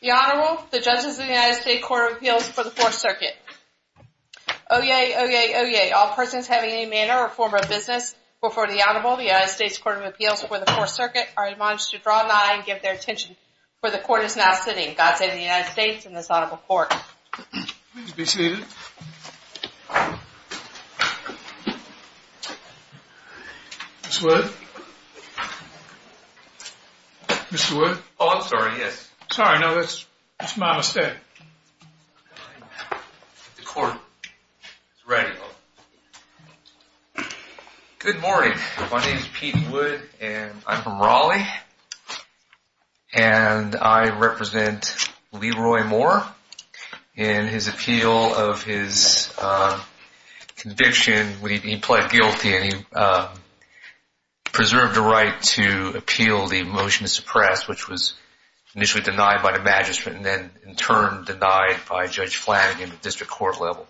The Honorable, the Judges of the United States Court of Appeals for the Fourth Circuit. Oyez, oyez, oyez, all persons having any manner or form of business before the Honorable, the United States Court of Appeals for the Fourth Circuit, are admonished to draw nigh and give their attention where the Court is now sitting. God save the United States and this Honorable Court. Please be seated. Mr. Wood? Mr. Wood? Oh, I'm sorry, yes. Sorry, no, that's my mistake. The Court is ready. Good morning. My name is Pete Wood and I'm from Raleigh. And I represent Leroy Moore in his appeal of his conviction. He pled guilty and he preserved the right to appeal the motion to suppress, which was initially denied by the Magistrate and then in turn denied by Judge Flanagan at district court level.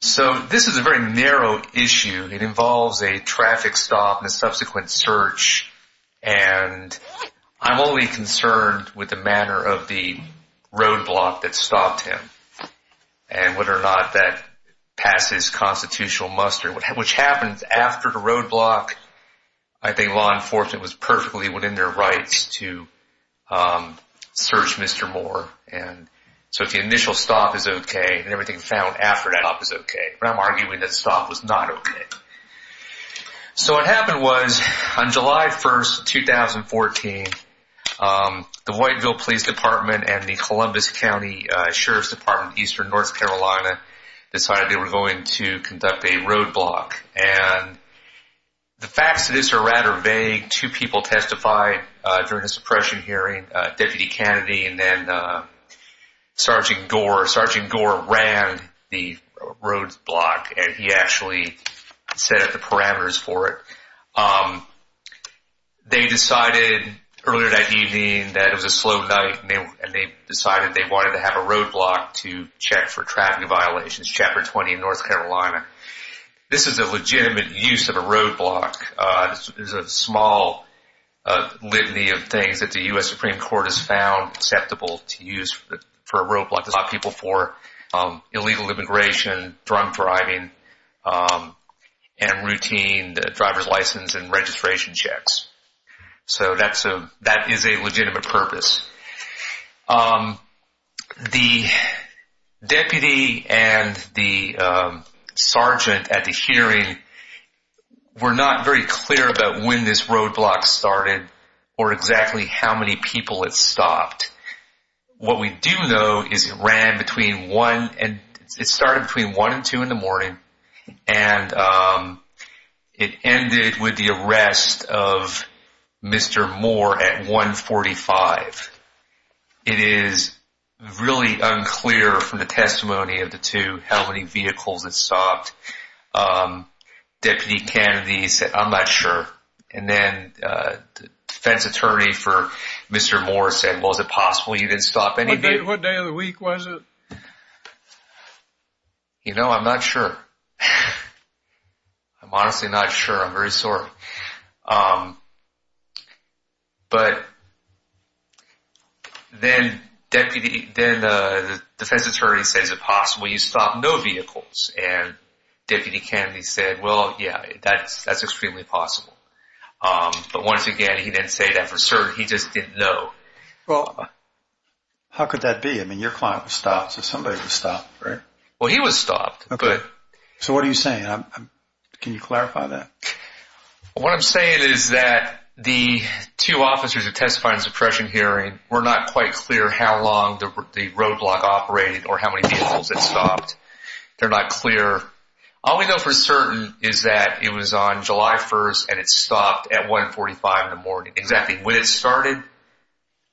So this is a very narrow issue. It involves a traffic stop and a subsequent search. And I'm only concerned with the manner of the roadblock that stopped him and whether or not that passes constitutional muster, which happened after the roadblock. I think law enforcement was perfectly within their rights to search Mr. Moore. So if the initial stop is okay, then everything found after that stop is okay. But I'm arguing that the stop was not okay. So what happened was on July 1, 2014, the Whiteville Police Department and the Columbus County Sheriff's Department of Eastern North Carolina decided they were going to conduct a roadblock. And the facts of this are rather vague. Two people testified during the suppression hearing, Deputy Kennedy and then Sergeant Gore. Sergeant Gore ran the roadblock and he actually set up the parameters for it. They decided earlier that evening that it was a slow night and they decided they wanted to have a roadblock to check for traffic violations, Chapter 20 in North Carolina. This is a legitimate use of a roadblock. This is a small litany of things that the U.S. Supreme Court has found acceptable to use for a roadblock. This is about people for illegal immigration, drunk driving, and routine driver's license and registration checks. So that is a legitimate purpose. The deputy and the sergeant at the hearing were not very clear about when this roadblock started or exactly how many people it stopped. What we do know is it started between 1 and 2 in the morning and it ended with the arrest of Mr. Moore at 145. It is really unclear from the testimony of the two how many vehicles it stopped. Deputy Kennedy said, I'm not sure. And then the defense attorney for Mr. Moore said, well, is it possible you didn't stop any vehicles? What day of the week was it? You know, I'm not sure. I'm honestly not sure. I'm very sorry. But then the defense attorney says, is it possible you stopped no vehicles? And Deputy Kennedy said, well, yeah, that's extremely possible. But once again, he didn't say that for certain. He just didn't know. Well, how could that be? I mean, your client was stopped, so somebody was stopped, right? Well, he was stopped. So what are you saying? Can you clarify that? What I'm saying is that the two officers that testified in the suppression hearing were not quite clear how long the roadblock operated or how many vehicles it stopped. They're not clear. All we know for certain is that it was on July 1 and it stopped at 145 in the morning. Exactly when it started,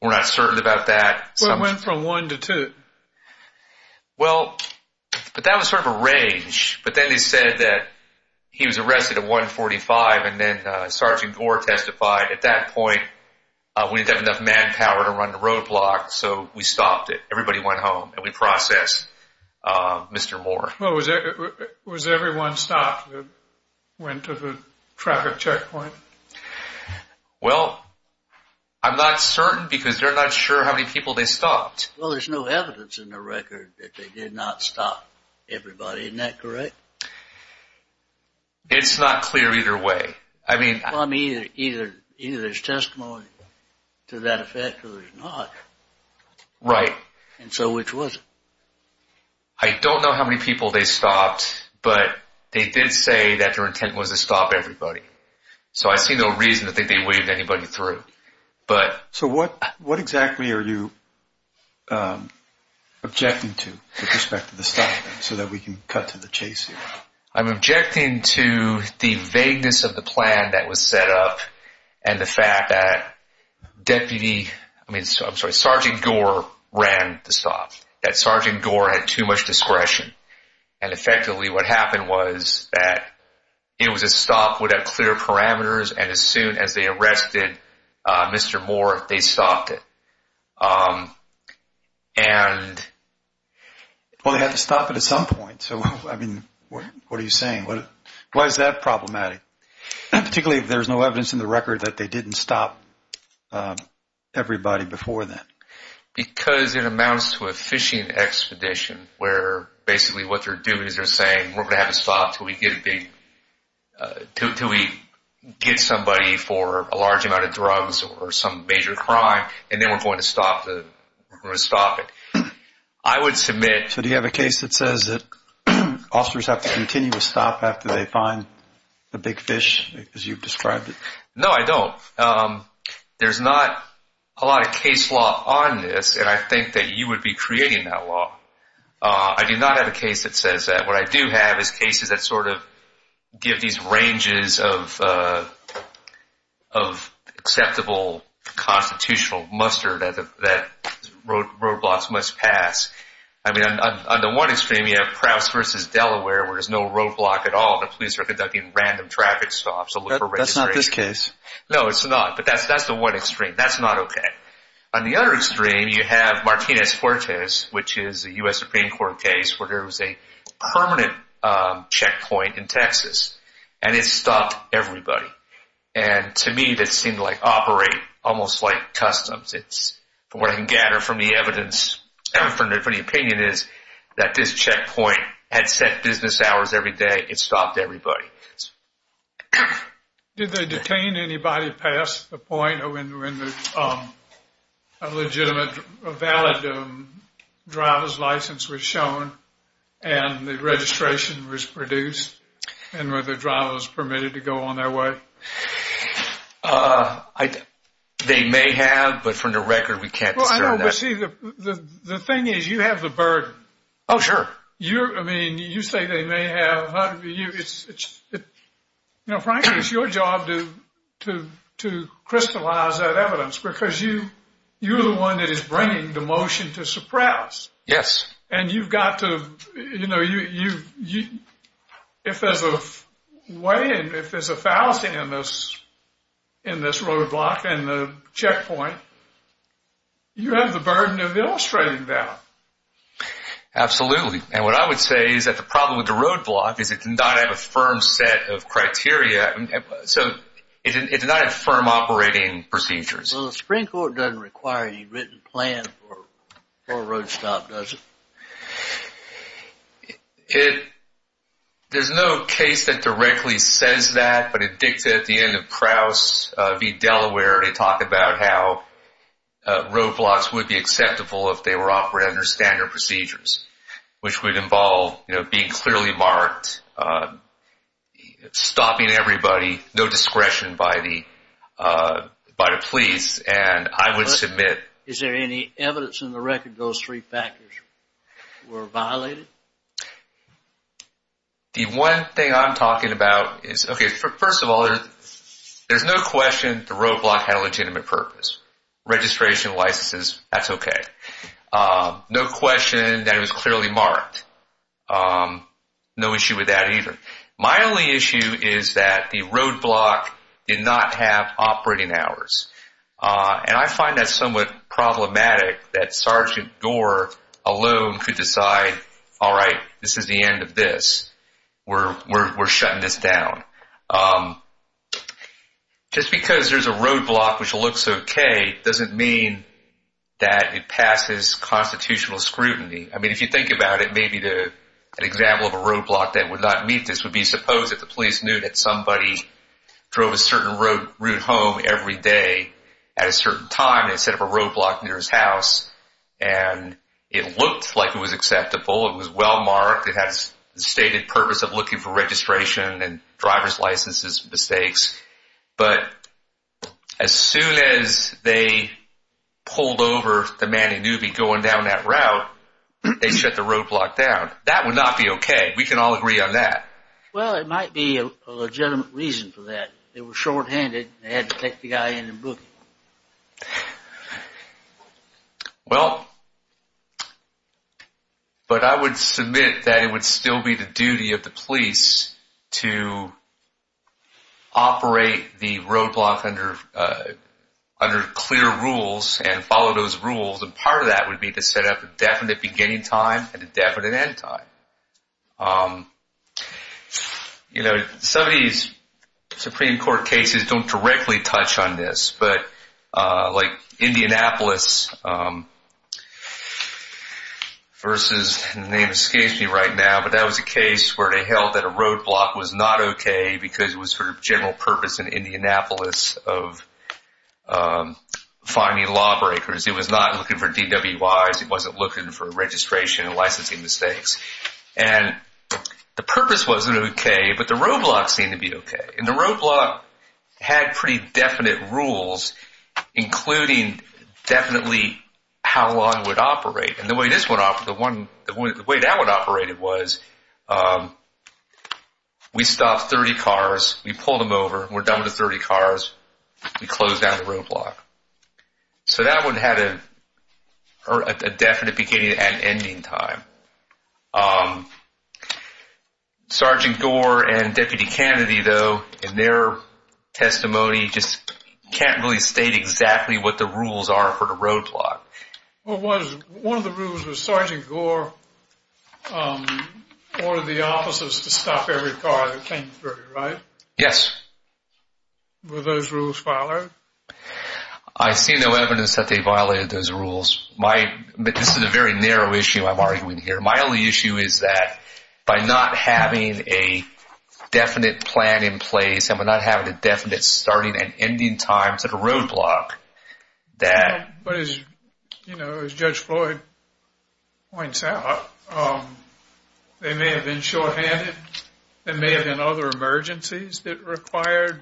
we're not certain about that. It went from 1 to 2. Well, but that was sort of a range. But then they said that he was arrested at 145 and then Sergeant Gore testified. At that point, we didn't have enough manpower to run the roadblock, so we stopped it. Everybody went home and we processed Mr. Moore. Was everyone stopped that went to the traffic checkpoint? Well, I'm not certain because they're not sure how many people they stopped. Well, there's no evidence in the record that they did not stop everybody. Isn't that correct? It's not clear either way. Either there's testimony to that effect or there's not. Right. And so which was it? I don't know how many people they stopped, but they did say that their intent was to stop everybody. So I see no reason to think they waved anybody through. So what exactly are you objecting to with respect to the stopping so that we can cut to the chase here? I'm objecting to the vagueness of the plan that was set up and the fact that Sergeant Gore ran the stop, that Sergeant Gore had too much discretion. And effectively what happened was that it was a stop without clear parameters, and as soon as they arrested Mr. Moore, they stopped it. Well, they had to stop it at some point. So, I mean, what are you saying? Why is that problematic, particularly if there's no evidence in the record that they didn't stop everybody before then? Because it amounts to a fishing expedition where basically what they're doing is they're saying, we're going to have to stop until we get somebody for a large amount of drugs or some major crime, and then we're going to stop it. I would submit— So do you have a case that says that officers have to continue to stop after they find the big fish, as you've described it? No, I don't. There's not a lot of case law on this, and I think that you would be creating that law. I do not have a case that says that. What I do have is cases that sort of give these ranges of acceptable constitutional muster that roadblocks must pass. I mean, on the one extreme, you have Prowse v. Delaware where there's no roadblock at all. The police are conducting random traffic stops to look for registration. No, it's not. But that's the one extreme. That's not okay. On the other extreme, you have Martinez-Fuertes, which is a U.S. Supreme Court case where there was a permanent checkpoint in Texas, and it stopped everybody. And to me, that seemed to operate almost like customs. What I can gather from the evidence, from the opinion, is that this checkpoint had set business hours every day. It stopped everybody. Did they detain anybody past the point when a legitimate, valid driver's license was shown and the registration was produced and whether the driver was permitted to go on their way? They may have, but from the record, we can't discern that. Well, I know, but see, the thing is, you have the burden. Oh, sure. I mean, you say they may have. You know, frankly, it's your job to crystallize that evidence because you're the one that is bringing the motion to suppress. Yes. And you've got to, you know, if there's a way in, if there's a fallacy in this roadblock and the checkpoint, you have the burden of illustrating that. Absolutely. And what I would say is that the problem with the roadblock is it does not have a firm set of criteria. So it does not have firm operating procedures. Well, the Supreme Court doesn't require a written plan for a roadstop, does it? It, there's no case that directly says that, but it dictated at the end of Krause v. Delaware, they talk about how roadblocks would be acceptable if they were operating under standard procedures, which would involve, you know, being clearly marked, stopping everybody, no discretion by the police, and I would submit. Is there any evidence in the record those three factors were violated? The one thing I'm talking about is, okay, first of all, there's no question the roadblock had a legitimate purpose. Registration, licenses, that's okay. No question that it was clearly marked. No issue with that either. My only issue is that the roadblock did not have operating hours. And I find that somewhat problematic that Sergeant Gore alone could decide, all right, this is the end of this. We're shutting this down. Just because there's a roadblock which looks okay doesn't mean that it passes constitutional scrutiny. I mean, if you think about it, maybe an example of a roadblock that would not meet this would be, suppose if the police knew that somebody drove a certain route home every day at a certain time and set up a roadblock near his house and it looked like it was acceptable, it was well marked, it had the stated purpose of looking for registration and driver's licenses and mistakes, but as soon as they pulled over the man they knew would be going down that route, they shut the roadblock down. That would not be okay. We can all agree on that. Well, it might be a legitimate reason for that. They were shorthanded and they had to take the guy in and book him. Well, but I would submit that it would still be the duty of the police to operate the roadblock under clear rules and follow those rules and part of that would be to set up a definite beginning time and a definite end time. You know, some of these Supreme Court cases don't directly touch on this, but like Indianapolis versus, the name escapes me right now, but that was a case where they held that a roadblock was not okay because it was for general purpose in Indianapolis of finding lawbreakers. It was not looking for DWIs, it wasn't looking for registration and licensing mistakes and the purpose wasn't okay, but the roadblock seemed to be okay and the roadblock had pretty definite rules including definitely how long it would operate and the way that one operated was we stopped 30 cars, we pulled them over, we're done with the 30 cars, we closed down the roadblock. So that one had a definite beginning and ending time. Sergeant Gore and Deputy Kennedy though in their testimony just can't really state exactly what the rules are for the roadblock. One of the rules was Sergeant Gore ordered the officers to stop every car that came through, right? Yes. Were those rules violated? I see no evidence that they violated those rules. This is a very narrow issue I'm arguing here. My only issue is that by not having a definite plan in place and by not having a definite starting and ending time to the roadblock, But as Judge Floyd points out, they may have been shorthanded. There may have been other emergencies that required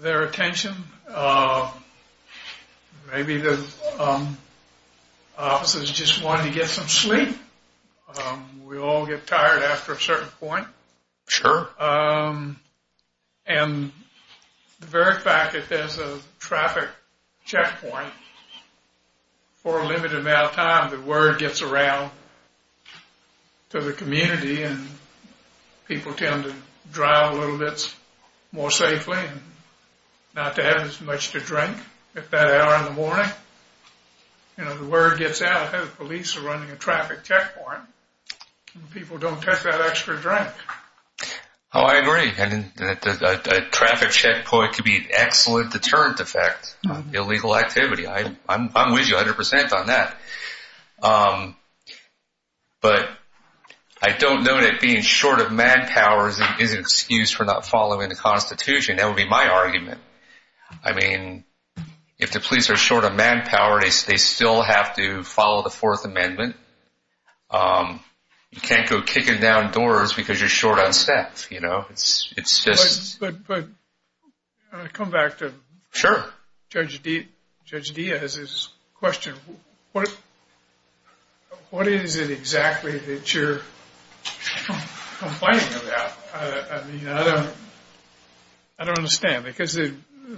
their attention. Maybe the officers just wanted to get some sleep. We all get tired after a certain point. Sure. And the very fact that there's a traffic checkpoint for a limited amount of time, the word gets around to the community and people tend to drive a little bit more safely and not to have as much to drink at that hour in the morning. The word gets out that the police are running a traffic checkpoint and people don't take that extra drink. Oh, I agree. A traffic checkpoint could be an excellent deterrent effect, illegal activity. I'm with you 100% on that. But I don't know that being short of manpower is an excuse for not following the Constitution. That would be my argument. I mean, if the police are short of manpower, they still have to follow the Fourth Amendment. You can't go kicking down doors because you're short on staff. But I come back to Judge Diaz's question. What is it exactly that you're complaining about? I mean, I don't understand. Because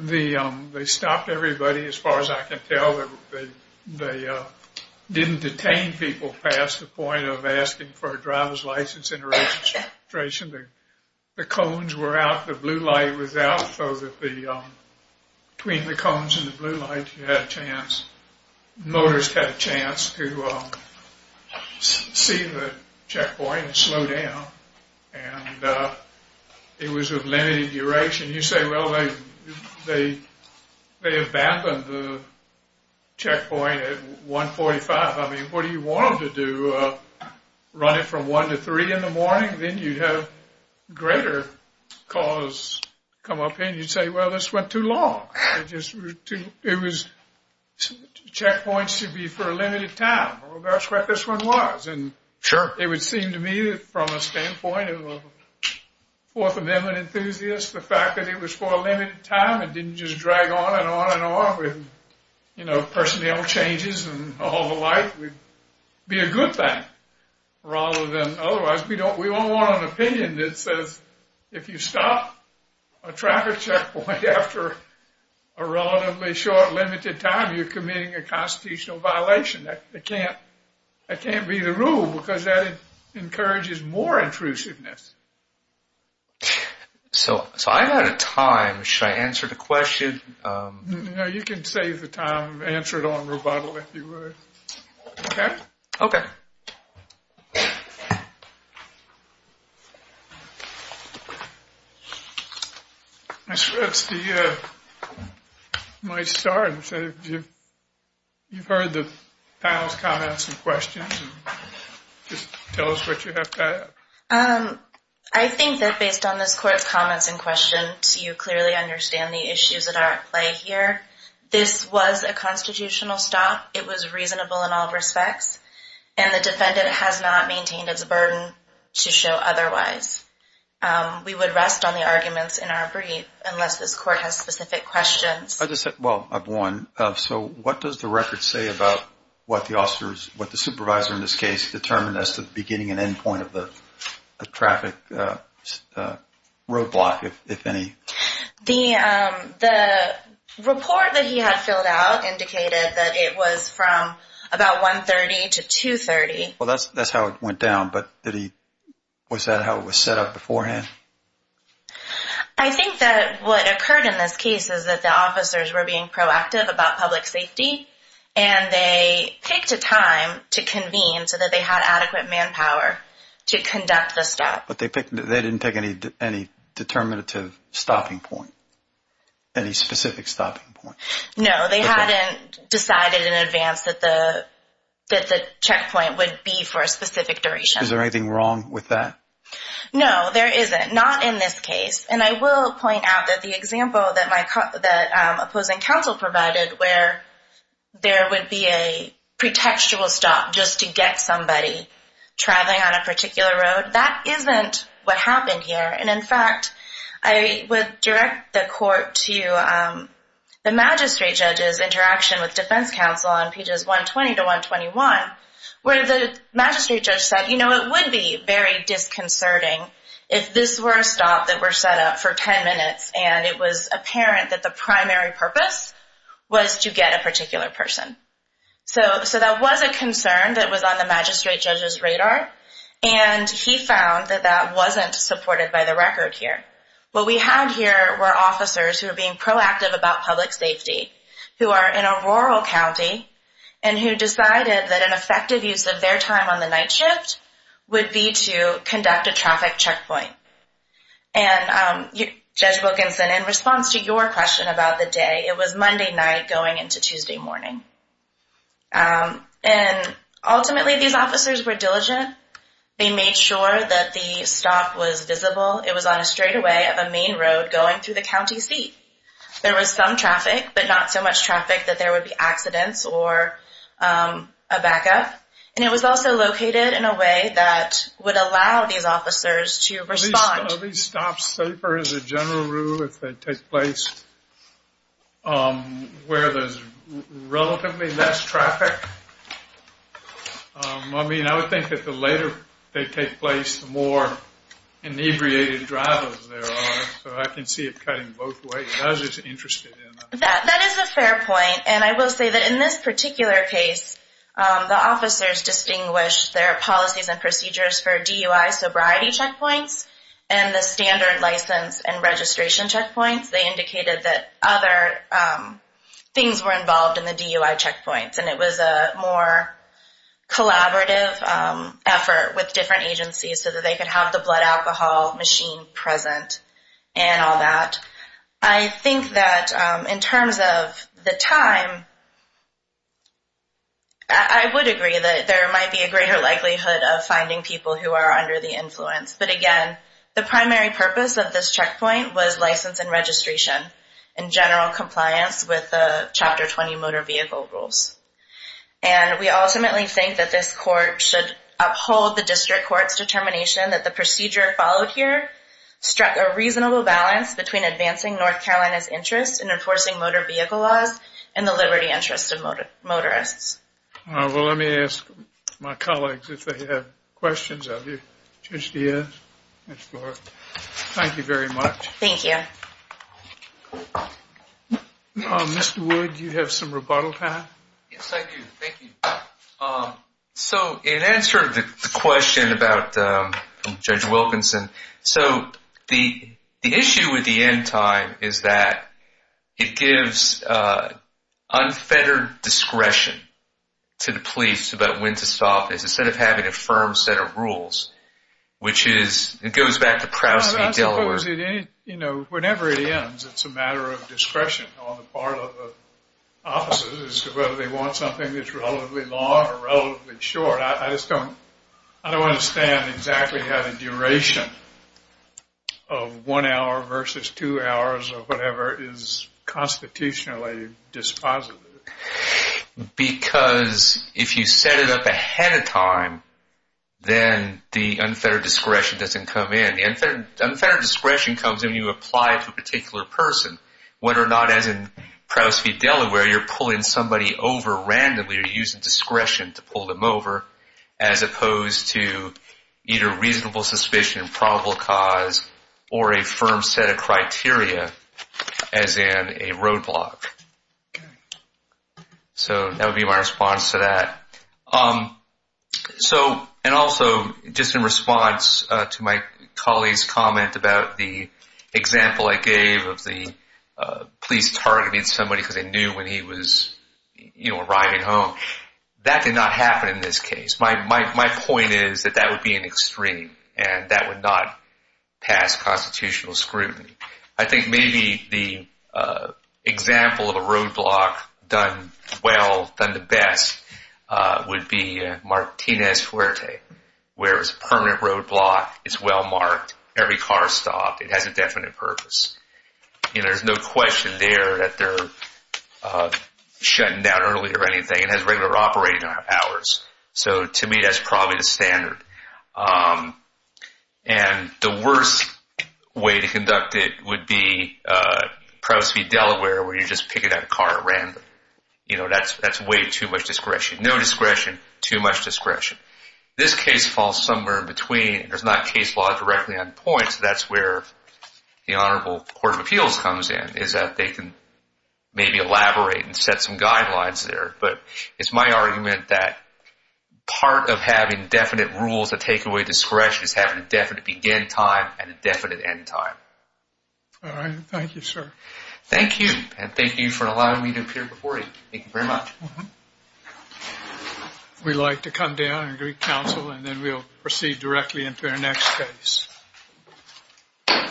they stopped everybody, as far as I can tell. They didn't detain people past the point of asking for a driver's license and registration. The cones were out. The blue light was out. So between the cones and the blue light, you had a chance. Motorists had a chance to see the checkpoint and slow down. And it was of limited duration. You say, well, they abandoned the checkpoint at 1.45. I mean, what do you want them to do? Run it from 1 to 3 in the morning? Then you'd have greater cause come up in. You'd say, well, this went too long. Checkpoints should be for a limited time. That's what this one was. It would seem to me, from a standpoint of a Fourth Amendment enthusiast, the fact that it was for a limited time and didn't just drag on and on and on with personnel changes and all the like would be a good thing. Rather than otherwise, we don't want an opinion that says, if you stop a traffic checkpoint after a relatively short, limited time, you're committing a constitutional violation. That can't be the rule because that encourages more intrusiveness. So I'm out of time. Should I answer the question? No, you can save the time and answer it on rebuttal if you would. Okay? Okay. Ms. Rips, do you want to start? You've heard the panel's comments and questions. Just tell us what you have to add. I think that based on this court's comments and questions, you clearly understand the issues that are at play here. This was a constitutional stop. It was reasonable in all respects, and the defendant has not maintained its burden to show otherwise. We would rest on the arguments in our brief, unless this court has specific questions. Well, I have one. So what does the record say about what the supervisor in this case determined as the beginning and end point of the traffic roadblock, if any? The report that he had filled out indicated that it was from about 1.30 to 2.30. Well, that's how it went down. But was that how it was set up beforehand? I think that what occurred in this case is that the officers were being proactive about public safety, and they picked a time to convene so that they had adequate manpower to conduct the stop. But they didn't pick any determinative stopping point, any specific stopping point. No, they hadn't decided in advance that the checkpoint would be for a specific duration. Is there anything wrong with that? No, there isn't, not in this case. And I will point out that the example that opposing counsel provided, where there would be a pretextual stop just to get somebody traveling on a bus, wasn't what happened here. And, in fact, I would direct the court to the magistrate judge's interaction with defense counsel on pages 120 to 121, where the magistrate judge said, you know, it would be very disconcerting if this were a stop that were set up for 10 minutes and it was apparent that the primary purpose was to get a particular person. And he found that that wasn't supported by the record here. What we had here were officers who were being proactive about public safety, who are in a rural county, and who decided that an effective use of their time on the night shift would be to conduct a traffic checkpoint. And, Judge Wilkinson, in response to your question about the day, it was Monday night going into Tuesday morning. And, ultimately, these officers were diligent. They made sure that the stop was visible. It was on a straightaway of a main road going through the county seat. There was some traffic, but not so much traffic that there would be accidents or a backup. And it was also located in a way that would allow these officers to respond. Are these stops safer as a general rule if they take place where there's relatively less traffic? I mean, I would think that the later they take place, the more inebriated drivers there are. So I can see it cutting both ways. I was just interested in that. That is a fair point. And I will say that in this particular case, the officers distinguished their policies and procedures for DUI sobriety checkpoints and the standard license and registration checkpoints. They indicated that other things were involved in the DUI checkpoints. And it was a more collaborative effort with different agencies so that they could have the blood alcohol machine present and all that. I think that in terms of the time, I would agree that there might be a greater likelihood of finding people who are under the influence. But, again, the primary purpose of this checkpoint was license and registration and general compliance with the Chapter 20 motor vehicle rules. And we ultimately think that this court should uphold the district court's determination that the procedure followed here struck a reasonable balance between advancing North Carolina's interest in enforcing motor vehicle laws and the liberty interest of motorists. Well, let me ask my colleagues if they have questions of you. Judge Diaz? Thank you very much. Thank you. Mr. Wood, do you have some rebuttal time? Yes, I do. Thank you. So in answer to the question about Judge Wilkinson, the issue with the end time is that it gives unfettered discretion to the police about when to stop instead of having a firm set of rules, which goes back to Proust v. Delaware. Whenever it ends, it's a matter of discretion on the part of the officers as to whether they want something that's relatively long or relatively short. I don't understand exactly how the duration of one hour versus two hours or whatever is constitutionally dispositive. Because if you set it up ahead of time, then the unfettered discretion doesn't come in. The unfettered discretion comes in when you apply it to a particular person. Whether or not, as in Proust v. Delaware, you're pulling somebody over randomly or you're using discretion to pull them over as opposed to either reasonable suspicion, probable cause, or a firm set of criteria as in a roadblock. So that would be my response to that. Also, just in response to my colleague's comment about the example I gave of the police targeting somebody because they knew when he was arriving home, that did not happen in this case. My point is that that would be an extreme and that would not pass constitutional scrutiny. I think maybe the example of a roadblock done well, done the best, would be Martinez-Fuerte, where it's a permanent roadblock, it's well marked, every car stopped, it has a definite purpose. There's no question there that they're shutting down early or anything. It has regular operating hours. So to me, that's probably the standard. And the worst way to conduct it would be Proust v. Delaware, where you're just picking that car at random. That's way too much discretion. No discretion, too much discretion. This case falls somewhere in between. There's not case law directly on point, so that's where the Honorable Court of Appeals comes in, is that they can maybe elaborate and set some guidelines there. But it's my argument that part of having definite rules to take away discretion is having a definite begin time and a definite end time. All right. Thank you, sir. Thank you, and thank you for allowing me to appear before you. Thank you very much. We'd like to come down and greet counsel, and then we'll proceed directly into our next case.